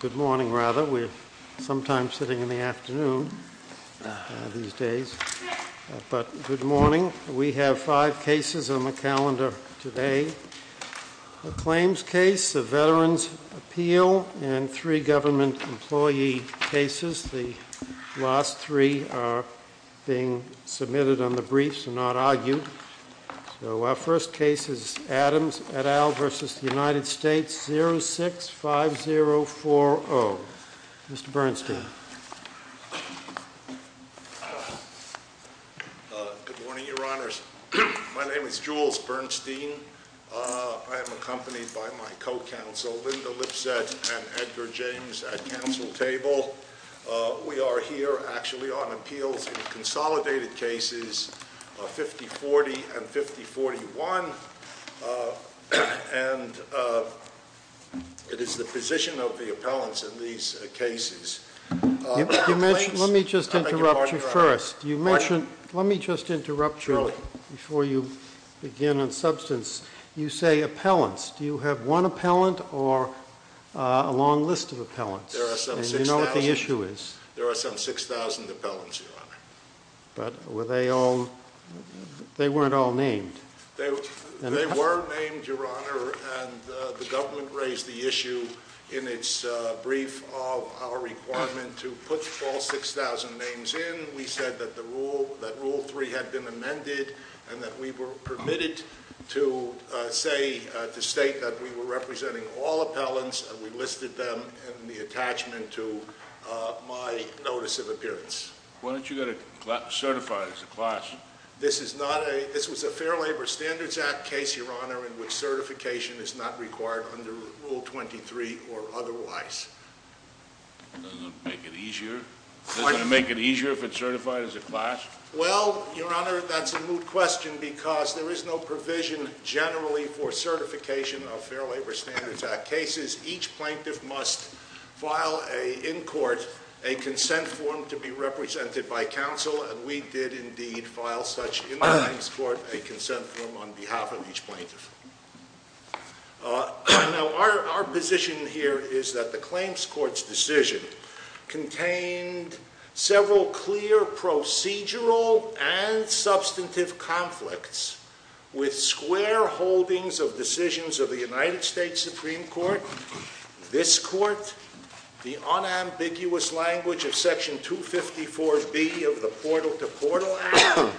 Good morning. We have five cases on the calendar today. The claims case, the Veterans' Appeal, and three government employee cases. The last three are being submitted on the briefs and not argued. So our first case is Adams et al. v. United States 065040. Mr. Bernstein. Good morning, Your Honors. My name is Jules Bernstein. I am accompanied by my co-counsel Linda Lipset and Edgar James at counsel table. We are here actually on appeals and consolidated cases 5040 and 5041, and it is the position of the appellants in these cases. Let me just interrupt you first. Let me just interrupt you before you begin on substance. You say appellants. Do you have one appellant or a long list of appellants? And you know what the issue is? But were they all, they weren't all named. They were named, Your Honor, and the government raised the issue in its brief of our requirement to put all 6,000 names in. We said that rule 3 had been amended and that we were permitted to say, to state that we were representing all appellants and we listed them in the attachment to my notice of appearance. Why don't you get it certified as a class? This is not a, this was a Fair Labor Standards Act case, Your Honor, in which certification is not required under Rule 23 or otherwise. Doesn't it make it easier? Doesn't it make it easier if it's certified as a class? Well, Your Honor, that's a moot question because there is no provision generally for certification of Fair Labor Standards Act cases. Each plaintiff must file a, in court, a consent form to be represented by counsel, and we did indeed file such in the claims court a consent form on behalf of each plaintiff. Now, our position here is that the claims court's decision contained several clear procedural and substantive conflicts with square holdings of decisions of the United States Supreme Court, this Court, the unambiguous language of Section 254B of the Portal to Portal Act,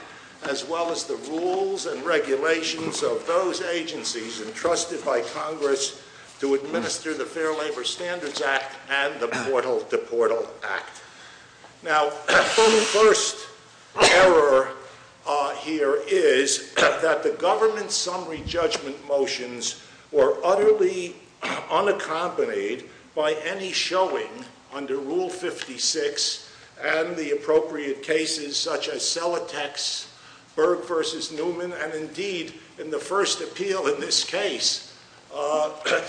as well as the rules and regulations of those agencies entrusted by Congress to administer the Fair Labor Standards Act and the Portal to Portal Act. Now, the first error here is that the government's summary judgment motions were utterly unaccompanied by any showing under Rule 56 and the appropriate cases such as Selatek's Berg v. Newman, and indeed, in the first appeal in this case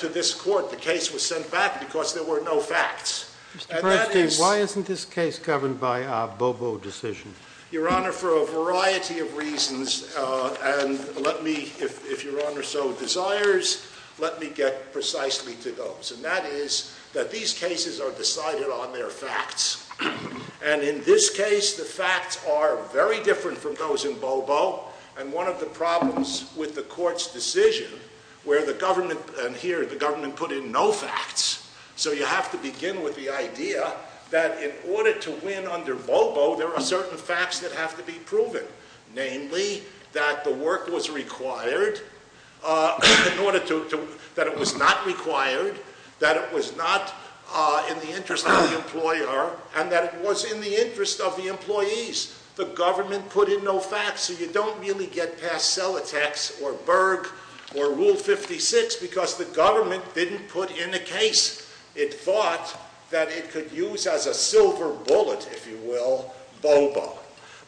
to this Court, the case was sent back because there were no facts. Mr. Persky, why isn't this case governed by a Bobo decision? Your Honor, for a variety of reasons, and let me, if Your Honor so desires, let me get precisely to those, and that is that these cases are decided on their facts, and in this case, the facts are very different from those in Bobo, and one of the problems with the Court's decision, where the government, and here, the government put in no facts, so you have to begin with the idea that in order to win under Bobo, there are certain facts that have to be proven, namely, that the work was required, that it was not required, that it was not in the interest of the employer, and that it was in the interest of the employees. The government put in no facts, so you don't really get past Selatek's or Berg or Rule 56, because the government didn't put in a case. It thought that it could use as a silver bullet, if you will, Bobo.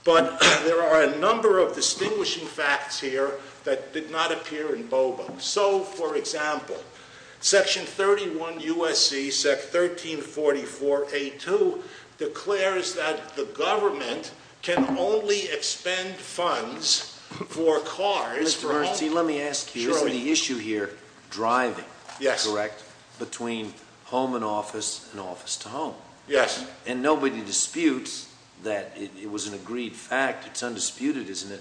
But there are a number of distinguishing facts here that did not appear in Bobo. So, for example, Section 31 U.S.C. Sec. 1344 A.2 declares that the government can only expend funds for cars. Mr. Bernstein, let me ask you, isn't the issue here driving, correct, between home and office and office to home? Yes. And nobody disputes that it was an agreed fact, it's undisputed, isn't it,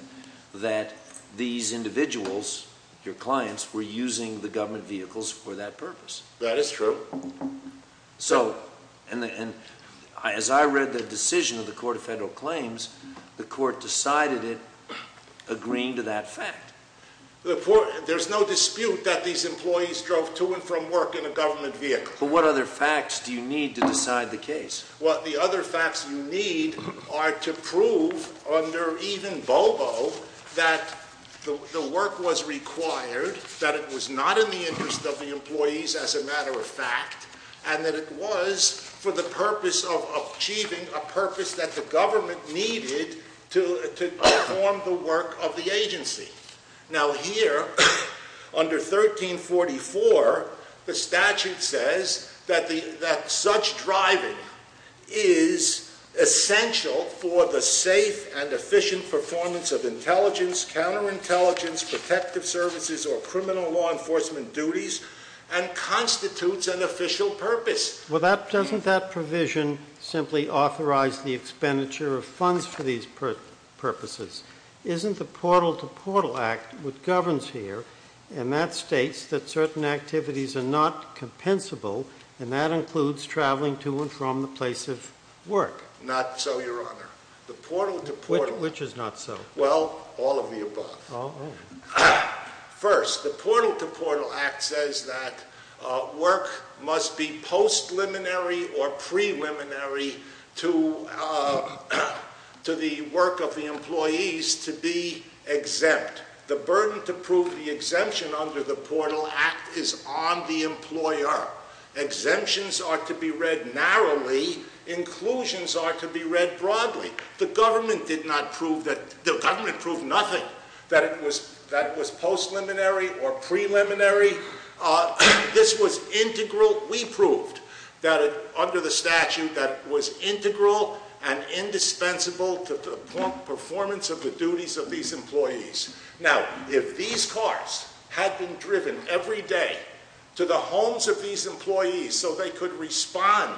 that these individuals, your clients, were using the government vehicles for that purpose. That is true. So, and as I read the decision of the Court of Federal Claims, the Court decided it agreeing to that fact. There's no dispute that these employees drove to and from work in a government vehicle. But what other facts do you need to decide the case? Well, the other facts you need are to prove under even Bobo that the work was required, that it was not in the interest of the employees as a matter of fact, and that it was for the Now, here, under 1344, the statute says that such driving is essential for the safe and efficient performance of intelligence, counterintelligence, protective services, or criminal law enforcement duties, and constitutes an official purpose. Well, doesn't that provision simply authorize the expenditure of funds for these purposes? Isn't the Portal-to-Portal Act what governs here, and that states that certain activities are not compensable, and that includes traveling to and from the place of work? Not so, Your Honor. The Portal-to-Portal… Which is not so? Well, all of the above. Oh. First, the Portal-to-Portal Act says that work must be post-liminary or pre-liminary to the work of the employees to be exempt. The burden to prove the exemption under the Portal Act is on the employer. Exemptions are to be read narrowly. Inclusions are to be read broadly. The government did not prove that… The government proved nothing that it was post-liminary or pre-liminary. This was integral. We proved that it, under the statute, that it was integral and indispensable to the performance of the duties of these employees. Now, if these cars had been driven every day to the homes of these employees so they could respond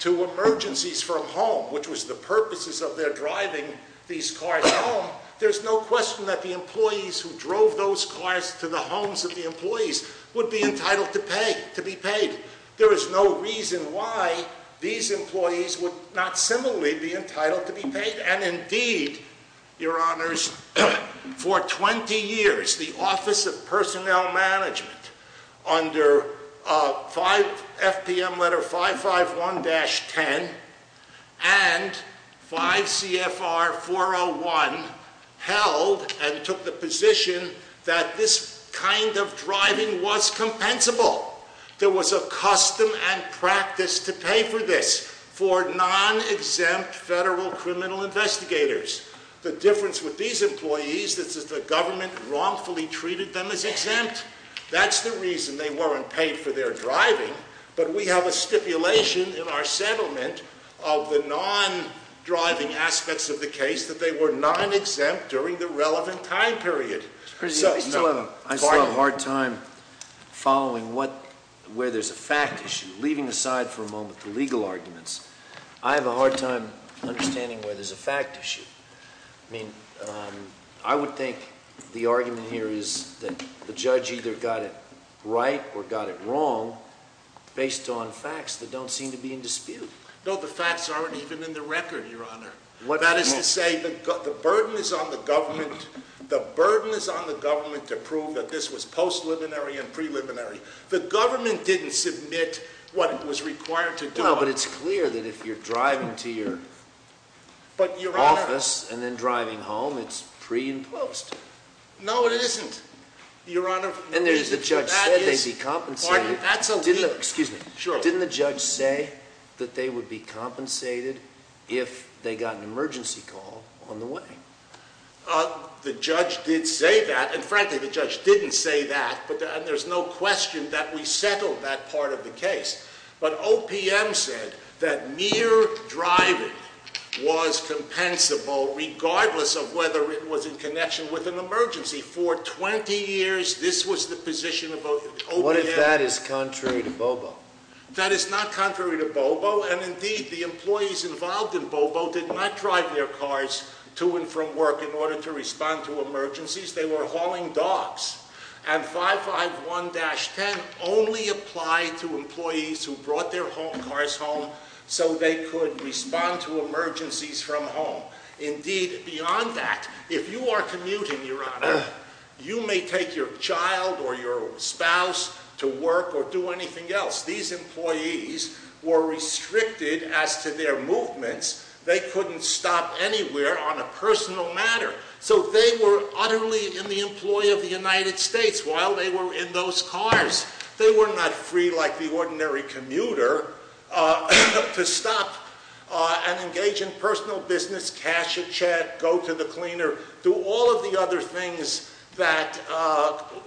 to emergencies from home, which was the purposes of their driving these cars home, there's no question that the employees who drove those cars to the homes of the employees would be entitled to pay, to be paid. There is no reason why these employees would not similarly be entitled to be paid. And indeed, Your Honors, for 20 years, the Office of Personnel Management, under FPM Letter 551-10 and 5 CFR 401, held and took the position that this kind of driving was compensable. There was a custom and practice to pay for this for non-exempt federal criminal investigators. The difference with these employees is that the government wrongfully treated them as exempt. That's the reason they weren't paid for their driving. But we have a stipulation in our settlement of the non-driving aspects of the case that they were non-exempt during the relevant time period. I still have a hard time following where there's a fact issue. Leaving aside for a moment the legal arguments, I have a hard time understanding where there's a fact issue. I mean, I would think the argument here is that the judge either got it right or got it wrong based on facts that don't seem to be in dispute. No, the facts aren't even in the record, Your Honor. That is to say, the burden is on the government to prove that this was post-liminary and preliminary. The government didn't submit what it was required to do. No, but it's clear that if you're driving to your office and then driving home, it's pre and post. No, it isn't, Your Honor. And the judge said they'd be compensated. Excuse me. Sure. Didn't the judge say that they would be compensated if they got an emergency call on the way? The judge did say that. And frankly, the judge didn't say that. And there's no question that we settled that part of the case. But OPM said that mere driving was compensable regardless of whether it was in connection with an emergency. For 20 years, this was the position of OPM. What if that is contrary to BOBO? That is not contrary to BOBO. And indeed, the employees involved in BOBO did not drive their cars to and from work in order to respond to emergencies. They were hauling dogs. And 551-10 only applied to employees who brought their cars home so they could respond to emergencies from home. Indeed, beyond that, if you are commuting, Your Honor, you may take your child or your spouse to work or do anything else. These employees were restricted as to their movements. They couldn't stop anywhere on a personal matter. So they were utterly in the employ of the United States while they were in those cars. They were not free like the ordinary commuter to stop and engage in personal business, cash a check, go to the cleaner, do all of the other things that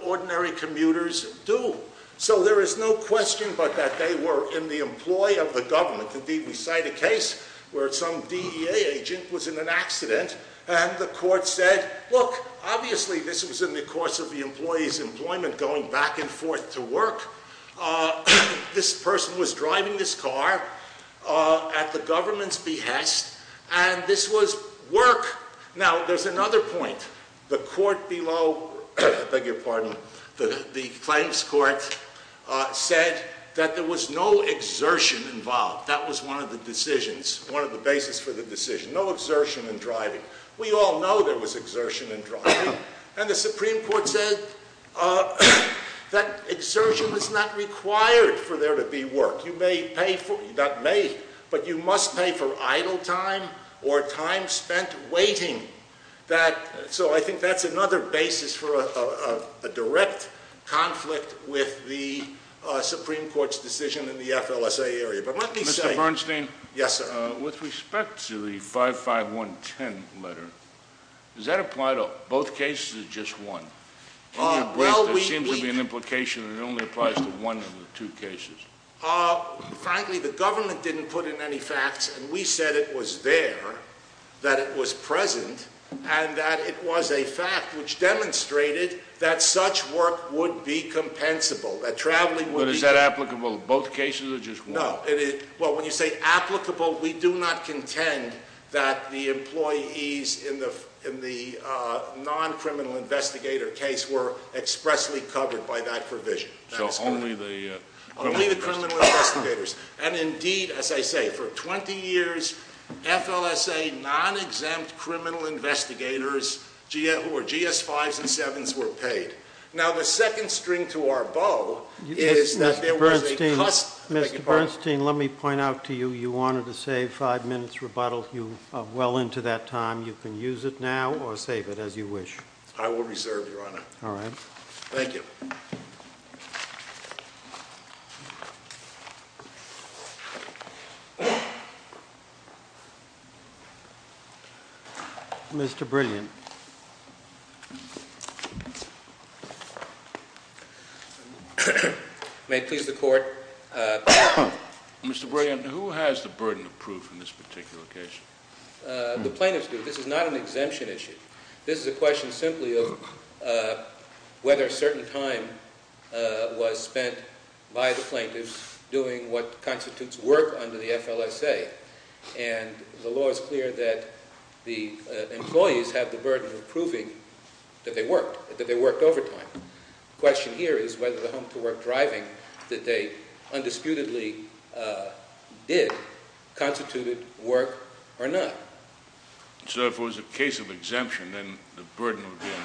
ordinary commuters do. So there is no question but that they were in the employ of the government. Indeed, we cite a case where some DEA agent was in an accident and the court said, Look, obviously this was in the course of the employee's employment going back and forth to work. This person was driving this car at the government's behest and this was work. Now, there is another point. The claims court said that there was no exertion involved. That was one of the decisions, one of the basis for the decision. No exertion in driving. We all know there was exertion in driving. And the Supreme Court said that exertion is not required for there to be work. But you must pay for idle time or time spent waiting. So I think that's another basis for a direct conflict with the Supreme Court's decision in the FLSA area. Mr. Bernstein? Yes, sir. With respect to the 55110 letter, does that apply to both cases or just one? There seems to be an implication that it only applies to one of the two cases. Frankly, the government didn't put in any facts and we said it was there, that it was present, and that it was a fact which demonstrated that such work would be compensable. But is that applicable to both cases or just one? No. Well, when you say applicable, we do not contend that the employees in the non-criminal investigator case were expressly covered by that provision. So only the- Only the criminal investigators. And indeed, as I say, for 20 years, FLSA non-exempt criminal investigators who were GS-5s and 7s were paid. Now, the second string to our bow is that there was a- Mr. Bernstein, let me point out to you, you wanted to say five minutes rebuttal. You are well into that time. You can use it now or save it as you wish. I will reserve, Your Honor. All right. Thank you. Mr. Brilliant? May it please the Court? Mr. Brilliant, who has the burden of proof in this particular case? The plaintiffs do. This is not an exemption issue. This is a question simply of whether a certain time was spent by the plaintiffs doing what constitutes work under the FLSA. And the law is clear that the employees have the burden of proving that they worked, that they worked overtime. The question here is whether the home-to-work driving that they undisputedly did constituted work or not. So if it was a case of exemption, then the burden would be on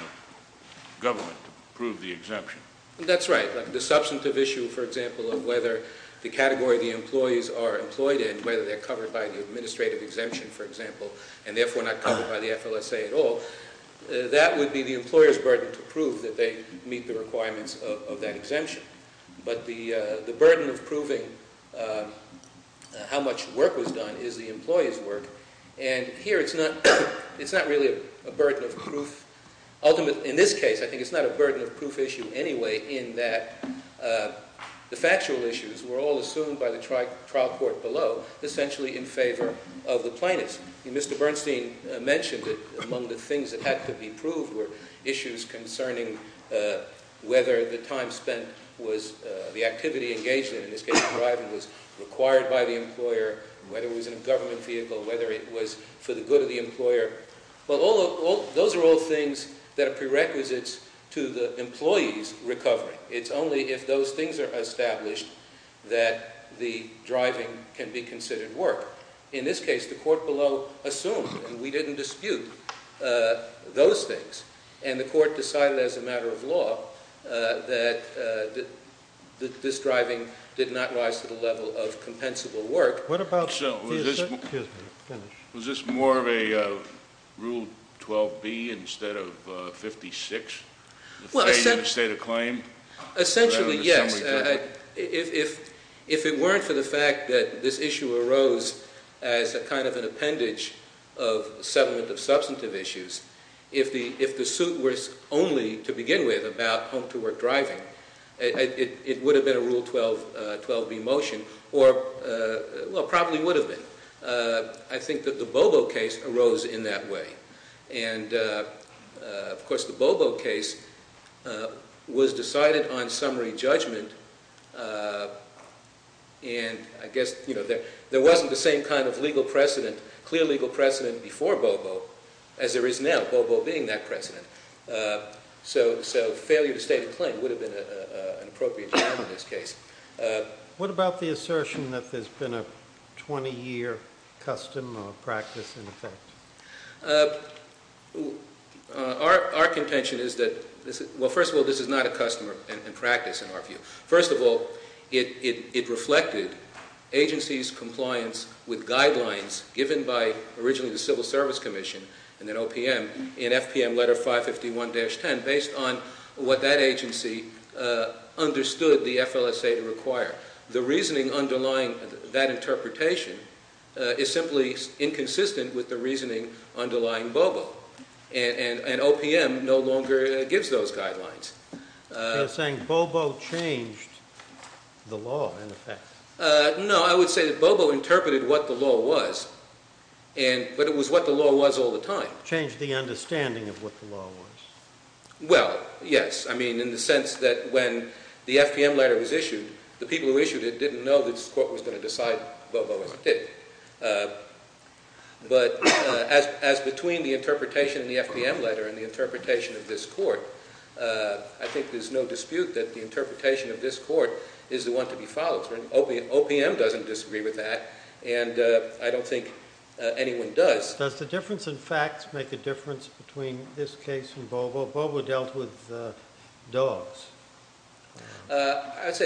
the government to prove the exemption. That's right. The substantive issue, for example, of whether the category the employees are employed in, whether they're covered by the administrative exemption, for example, and therefore not covered by the FLSA at all, that would be the employer's burden to prove that they meet the requirements of that exemption. But the burden of proving how much work was done is the employer's work, and here it's not really a burden of proof. In this case, I think it's not a burden of proof issue anyway in that the factual issues were all assumed by the trial court below, essentially in favor of the plaintiffs. Mr. Bernstein mentioned that among the things that had to be proved were issues concerning whether the time spent was the activity engaged in, in this case driving, was required by the employer, whether it was in a government vehicle, whether it was for the good of the employer. Well, those are all things that are prerequisites to the employee's recovery. It's only if those things are established that the driving can be considered work. In this case, the court below assumed and we didn't dispute those things, and the court decided as a matter of law that this driving did not rise to the level of compensable work. Was this more of a Rule 12B instead of 56? Essentially, yes. If it weren't for the fact that this issue arose as a kind of an appendage of settlement of substantive issues, if the suit was only to begin with about home-to-work driving, it would have been a Rule 12B motion. Or, well, probably would have been. I think that the Bobo case arose in that way. And, of course, the Bobo case was decided on summary judgment, and I guess there wasn't the same kind of legal precedent, clear legal precedent before Bobo as there is now, Bobo being that precedent. So failure to state a claim would have been an appropriate term in this case. What about the assertion that there's been a 20-year custom or practice in effect? Our contention is that, well, first of all, this is not a custom and practice in our view. First of all, it reflected agencies' compliance with guidelines given by originally the Civil Service Commission and then OPM in FPM Letter 551-10 based on what that agency understood the FLSA to require. The reasoning underlying that interpretation is simply inconsistent with the reasoning underlying Bobo. And OPM no longer gives those guidelines. You're saying Bobo changed the law, in effect. No, I would say that Bobo interpreted what the law was, but it was what the law was all the time. Changed the understanding of what the law was. Well, yes, I mean in the sense that when the FPM letter was issued, the people who issued it didn't know that this Court was going to decide Bobo as it did. But as between the interpretation in the FPM letter and the interpretation of this Court, I think there's no dispute that the interpretation of this Court is the one to be followed. OPM doesn't disagree with that, and I don't think anyone does. Does the difference in facts make a difference between this case and Bobo? Bobo dealt with dogs. In fact,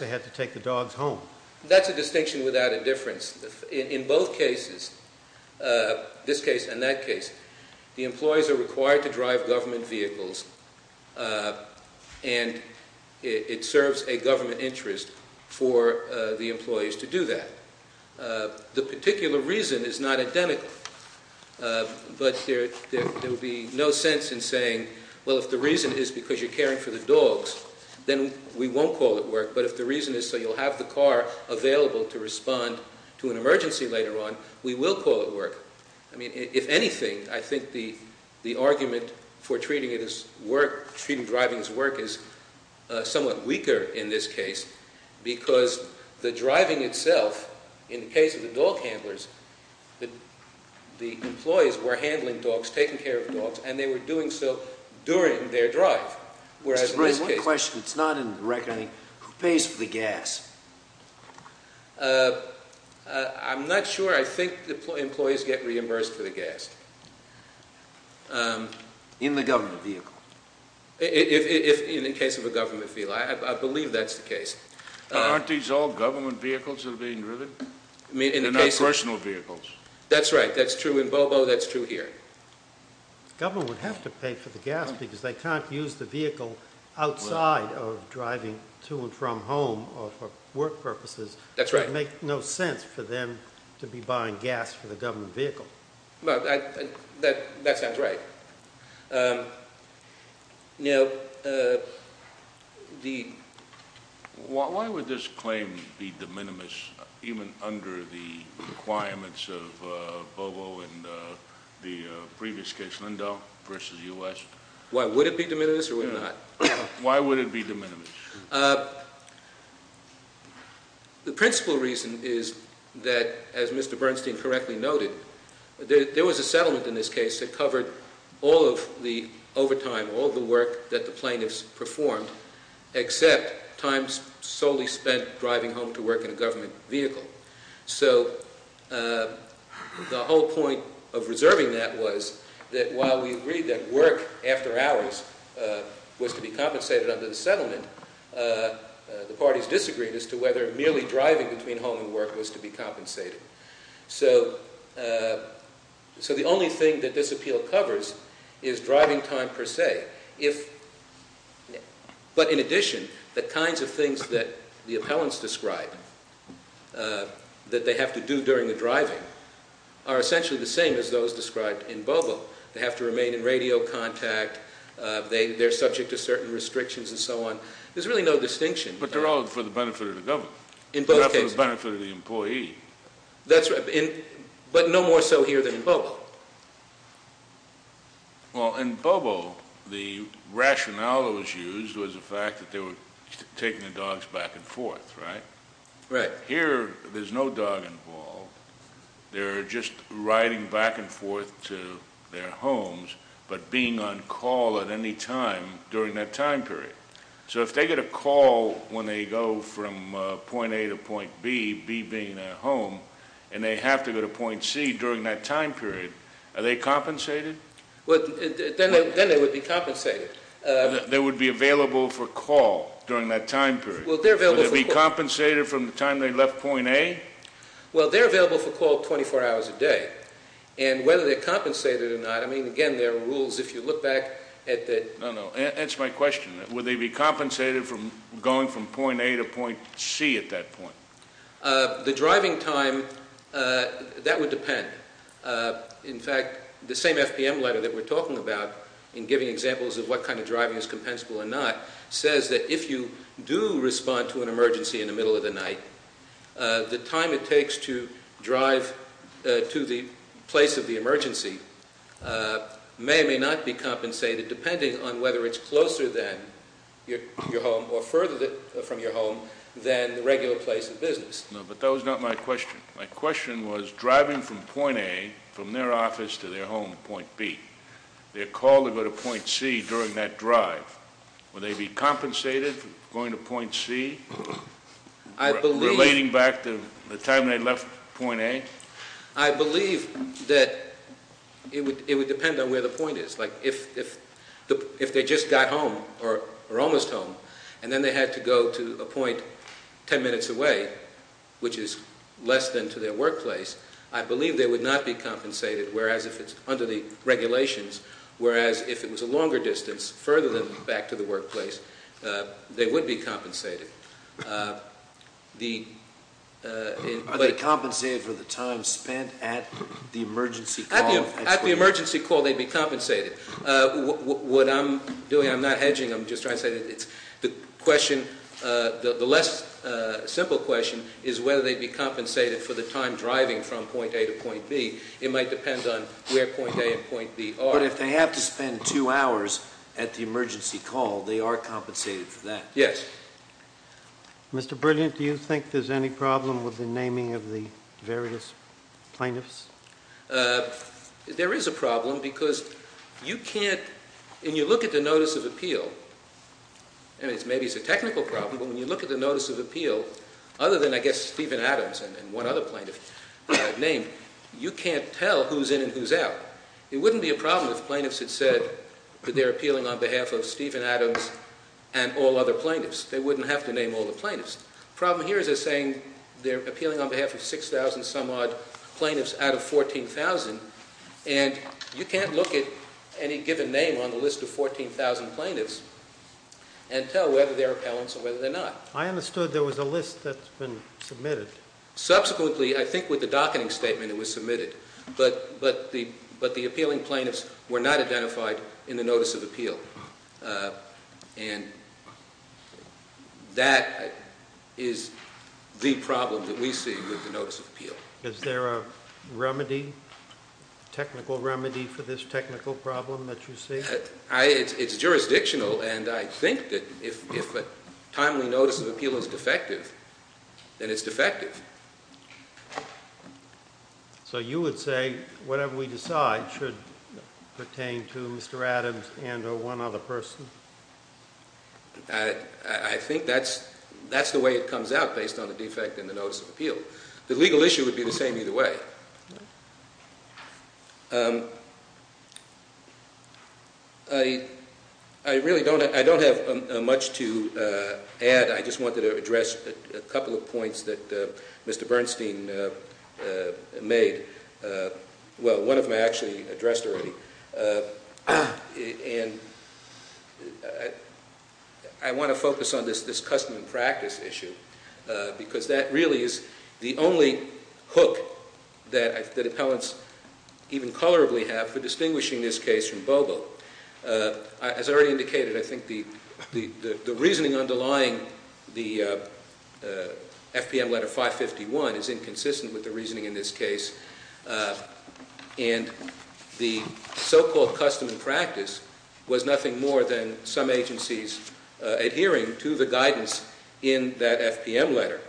they had to take the dogs home. That's a distinction without a difference. In both cases, this case and that case, the employees are required to drive government vehicles, and it serves a government interest for the employees to do that. The particular reason is not identical, but there would be no sense in saying, well, if the reason is because you're caring for the dogs, then we won't call it work, but if the reason is so you'll have the car available to respond to an emergency later on, we will call it work. I mean, if anything, I think the argument for treating driving as work is somewhat weaker in this case because the driving itself, in the case of the dog handlers, the employees were handling dogs, taking care of dogs, and they were doing so during their drive. Mr. Bray, one question that's not in the record, I think. Who pays for the gas? I'm not sure. I think the employees get reimbursed for the gas. In the government vehicle? In the case of a government vehicle. I believe that's the case. Aren't these all government vehicles that are being driven? I mean, in the case of- They're not personal vehicles. That's right. That's true in Bobo. That's true here. The government would have to pay for the gas because they can't use the vehicle outside of driving to and from home or for work purposes. That's right. It would make no sense for them to be buying gas for the government vehicle. That sounds right. Now, the- Why would this claim be de minimis even under the requirements of Bobo in the previous case, Lindau versus U.S.? Why, would it be de minimis or would it not? Why would it be de minimis? The principal reason is that, as Mr. Bernstein correctly noted, there was a settlement in this case that covered all of the overtime, all of the work that the plaintiffs performed, except time solely spent driving home to work in a government vehicle. So the whole point of reserving that was that while we agreed that work after hours was to be compensated under the settlement, the parties disagreed as to whether merely driving between home and work was to be compensated. So the only thing that this appeal covers is driving time per se. But in addition, the kinds of things that the appellants describe that they have to do during the driving are essentially the same as those described in Bobo. They have to remain in radio contact. They're subject to certain restrictions and so on. There's really no distinction. But they're all for the benefit of the government. In both cases. They're not for the benefit of the employee. That's right, but no more so here than in Bobo. Well, in Bobo, the rationale that was used was the fact that they were taking the dogs back and forth, right? Right. Here, there's no dog involved. They're just riding back and forth to their homes, but being on call at any time during that time period. So if they get a call when they go from point A to point B, B being their home, and they have to go to point C during that time period, are they compensated? Then they would be compensated. They would be available for call during that time period. Would they be compensated from the time they left point A? Well, they're available for call 24 hours a day. And whether they're compensated or not, I mean, again, there are rules. No, no. Answer my question. Would they be compensated from going from point A to point C at that point? The driving time, that would depend. In fact, the same FPM letter that we're talking about in giving examples of what kind of driving is compensable or not, says that if you do respond to an emergency in the middle of the night, the time it takes to drive to the place of the emergency may or may not be compensated, depending on whether it's closer than your home or further from your home than the regular place of business. No, but that was not my question. My question was driving from point A, from their office to their home, point B. They're called to go to point C during that drive. Would they be compensated for going to point C? I believe- Relating back to the time they left point A? I believe that it would depend on where the point is. Like, if they just got home, or almost home, and then they had to go to a point 10 minutes away, which is less than to their workplace, I believe they would not be compensated, whereas if it's under the regulations, whereas if it was a longer distance, further than back to the workplace, they would be compensated. Are they compensated for the time spent at the emergency call? At the emergency call, they'd be compensated. What I'm doing, I'm not hedging, I'm just trying to say that the question, the less simple question is whether they'd be compensated for the time driving from point A to point B. It might depend on where point A and point B are. But if they have to spend two hours at the emergency call, they are compensated for that. Yes. Mr. Brilliant, do you think there's any problem with the naming of the various plaintiffs? There is a problem, because you can't, and you look at the notice of appeal, and maybe it's a technical problem, but when you look at the notice of appeal, other than, I guess, Stephen Adams and one other plaintiff that I've named, you can't tell who's in and who's out. It wouldn't be a problem if plaintiffs had said that they're appealing on behalf of Stephen Adams and all other plaintiffs. They wouldn't have to name all the plaintiffs. The problem here is they're saying they're appealing on behalf of 6,000-some-odd plaintiffs out of 14,000, and you can't look at any given name on the list of 14,000 plaintiffs and tell whether they're appellants or whether they're not. I understood there was a list that's been submitted. But the appealing plaintiffs were not identified in the notice of appeal, and that is the problem that we see with the notice of appeal. Is there a remedy, technical remedy, for this technical problem that you see? It's jurisdictional, and I think that if a timely notice of appeal is defective, then it's defective. Okay. So you would say whatever we decide should pertain to Mr. Adams and or one other person? I think that's the way it comes out based on the defect in the notice of appeal. The legal issue would be the same either way. I really don't have much to add. I just wanted to address a couple of points that Mr. Bernstein made. Well, one of them I actually addressed already. And I want to focus on this custom and practice issue because that really is the only hook that appellants even colorably have for distinguishing this case from Bobo. As I already indicated, I think the reasoning underlying the FPM letter 551 is inconsistent with the reasoning in this case. And the so-called custom and practice was nothing more than some agencies adhering to the guidance in that FPM letter.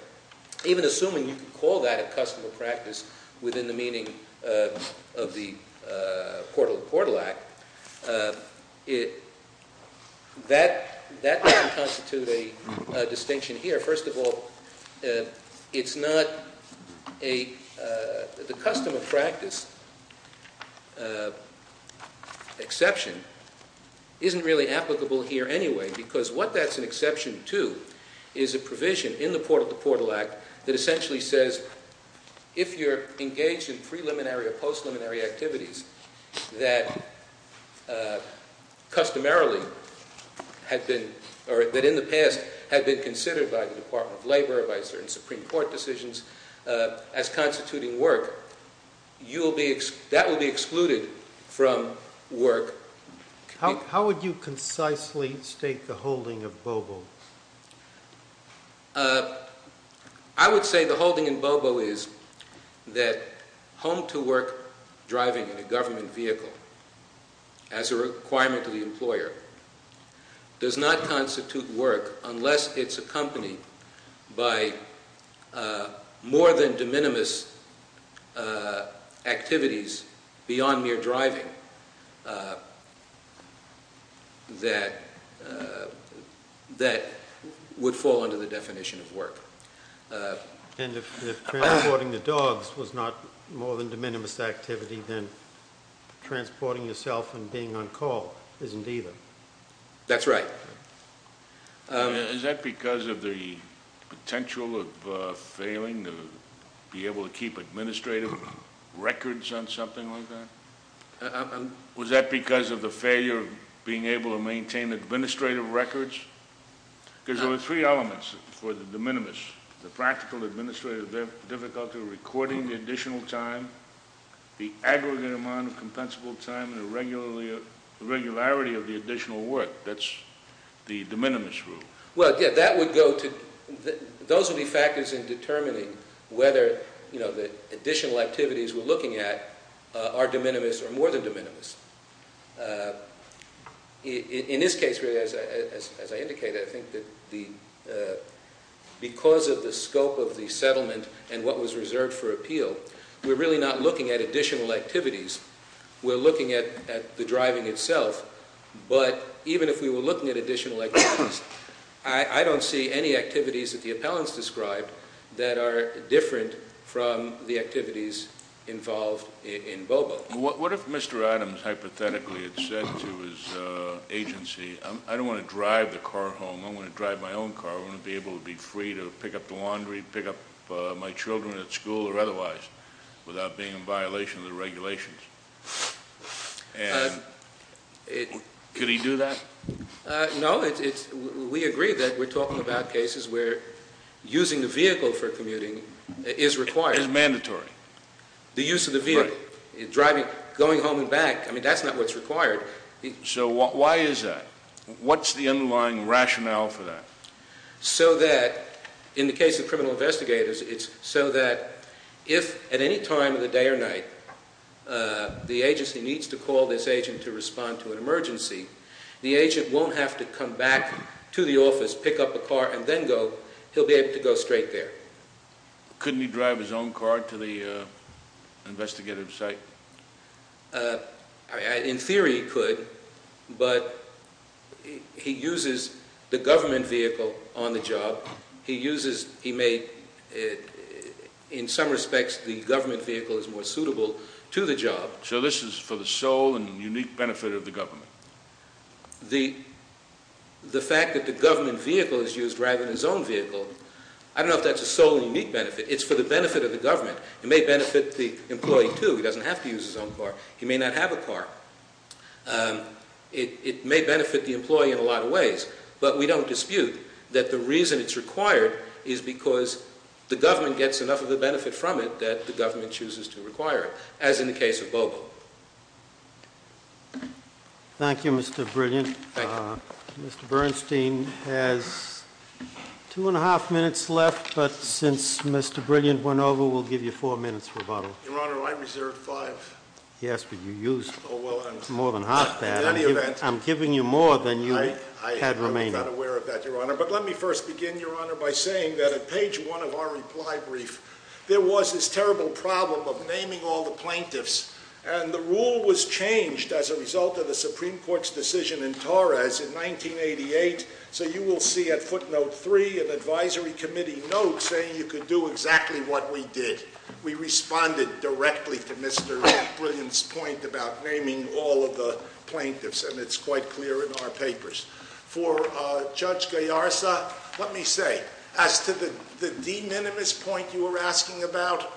Even assuming you could call that a custom of practice within the meaning of the Portal to Portal Act, that doesn't constitute a distinction here. First of all, it's not a – the custom of practice exception isn't really applicable here anyway because what that's an exception to is a provision in the Portal to Portal Act that essentially says if you're engaged in preliminary or post-preliminary activities that customarily had been – or that in the past had been considered by the Department of Labor or by certain Supreme Court decisions as constituting work, you will be – that will be excluded from work. How would you concisely state the holding of Bobo? I would say the holding in Bobo is that home-to-work driving in a government vehicle as a requirement to the employer does not constitute work unless it's accompanied by more than de minimis activities beyond mere driving that would fall under the definition of work. And if transporting the dogs was not more than de minimis activity, then transporting yourself and being on call isn't either. That's right. Is that because of the potential of failing to be able to keep administrative records on something like that? Was that because of the failure of being able to maintain administrative records? Because there were three elements for the de minimis. The practical administrative difficulty of recording the additional time, the aggregate amount of compensable time, and the regularity of the additional work. That's the de minimis rule. Well, yeah, that would go to – those would be factors in determining whether, you know, the additional activities we're looking at are de minimis or more than de minimis. In this case, really, as I indicated, I think that because of the scope of the settlement and what was reserved for appeal, we're really not looking at additional activities. We're looking at the driving itself. But even if we were looking at additional activities, I don't see any activities that the appellants described that are different from the activities involved in Bobo. Well, what if Mr. Adams hypothetically had said to his agency, I don't want to drive the car home, I want to drive my own car, I want to be able to be free to pick up the laundry, pick up my children at school or otherwise, without being in violation of the regulations. And could he do that? No. We agree that we're talking about cases where using the vehicle for commuting is required. It's mandatory. The use of the vehicle, going home and back, I mean, that's not what's required. So why is that? What's the underlying rationale for that? So that, in the case of criminal investigators, it's so that if at any time of the day or night the agency needs to call this agent to respond to an emergency, the agent won't have to come back to the office, pick up a car, and then go. He'll be able to go straight there. Couldn't he drive his own car to the investigative site? In theory he could, but he uses the government vehicle on the job. He uses, he may, in some respects, the government vehicle is more suitable to the job. So this is for the sole and unique benefit of the government? The fact that the government vehicle is used rather than his own vehicle, I don't know if that's a sole and unique benefit. It's for the benefit of the government. It may benefit the employee, too. He doesn't have to use his own car. He may not have a car. It may benefit the employee in a lot of ways, but we don't dispute that the reason it's required is because the government gets enough of the benefit from it that the government chooses to require it, as in the case of Bogle. Thank you, Mr. Brilliant. Thank you. Mr. Bernstein has two and a half minutes left, but since Mr. Brilliant went over, we'll give you four minutes for rebuttal. Your Honor, I reserved five. Yes, but you used more than half that. In any event. I'm giving you more than you had remaining. I was not aware of that, Your Honor. But let me first begin, Your Honor, by saying that at page one of our reply brief, there was this terrible problem of naming all the plaintiffs, and the rule was changed as a result of the Supreme Court's decision in Torres in 1988, so you will see at footnote three an advisory committee note saying you could do exactly what we did. We responded directly to Mr. Brilliant's point about naming all of the plaintiffs, and it's quite clear in our papers. For Judge Gallarza, let me say, as to the de minimis point you were asking about,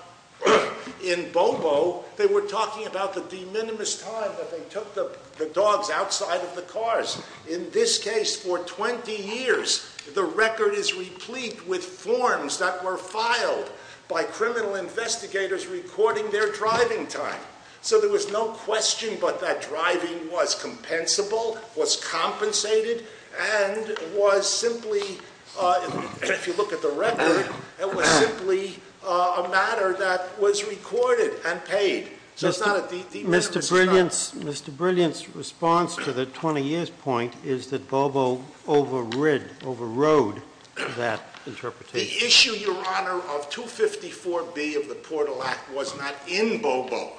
in Bobo, they were talking about the de minimis time that they took the dogs outside of the cars. In this case, for 20 years, the record is replete with forms that were filed by criminal investigators recording their driving time. So there was no question but that driving was compensable, was compensated, and was simply, if you look at the record, it was simply a matter that was recorded and paid. So it's not a de minimis time. Mr. Brilliant's response to the 20 years point is that Bobo overrode that interpretation. The issue, Your Honor, of 254B of the Portal Act was not in Bobo.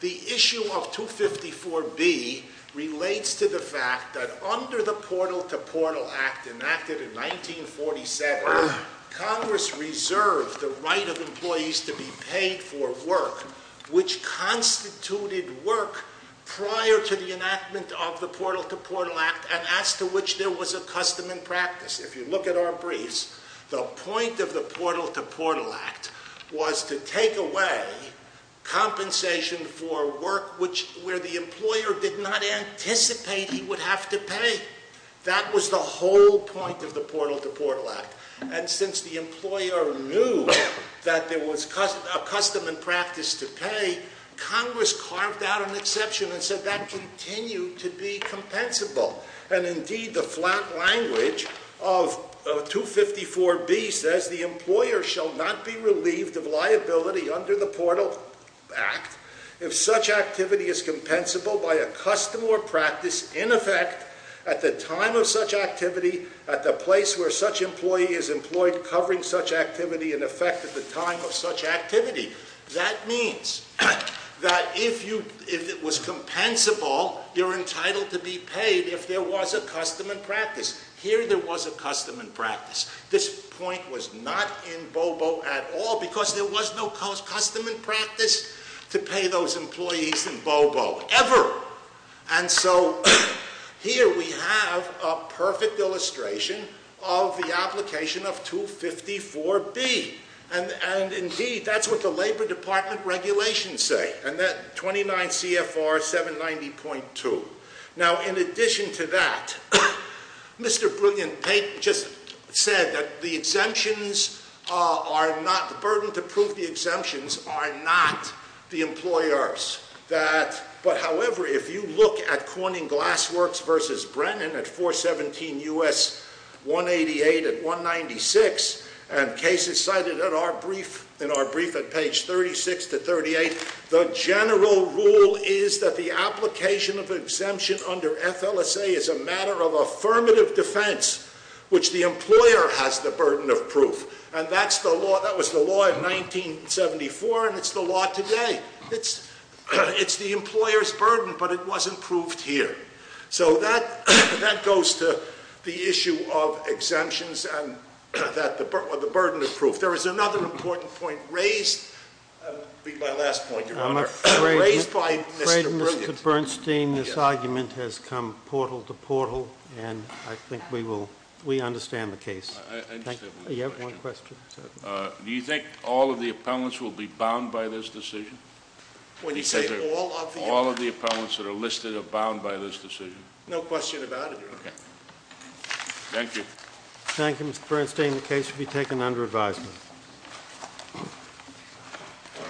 The issue of 254B relates to the fact that under the Portal to Portal Act enacted in 1947, Congress reserved the right of employees to be paid for work, which constituted work prior to the enactment of the Portal to Portal Act, and as to which there was a custom and practice. If you look at our briefs, the point of the Portal to Portal Act was to take away compensation for work where the employer did not anticipate he would have to pay. That was the whole point of the Portal to Portal Act. And since the employer knew that there was a custom and practice to pay, Congress carved out an exception and said that continued to be compensable. And indeed, the flat language of 254B says, the employer shall not be relieved of liability under the Portal Act if such activity is compensable by a custom or practice in effect at the time of such activity at the place where such employee is employed covering such activity in effect at the time of such activity. That means that if it was compensable, you're entitled to be paid if there was a custom and practice. Here there was a custom and practice. This point was not in BOBO at all because there was no custom and practice to pay those employees in BOBO ever. And so here we have a perfect illustration of the application of 254B. And indeed, that's what the Labor Department regulations say. And that 29 CFR 790.2. Now in addition to that, Mr. Brilliant-Pate just said that the exemptions are not, the burden to prove the exemptions are not the employers. But however, if you look at Corning Glassworks versus Brennan at 417 U.S. 188 and 196 and cases cited in our brief at page 36 to 38, the general rule is that the application of exemption under FLSA is a matter of affirmative defense, which the employer has the burden of proof. And that was the law of 1974 and it's the law today. It's the employer's burden, but it wasn't proved here. So that goes to the issue of exemptions and the burden of proof. There is another important point raised. That would be my last point, Your Honor. Raised by Mr. Brilliant. I'm afraid, Mr. Bernstein, this argument has come portal to portal, and I think we understand the case. I just have one question. Do you think all of the appellants will be bound by this decision? When you say all of the- No question about it, Your Honor. Thank you. Thank you, Mr. Bernstein. The case will be taken under advisement.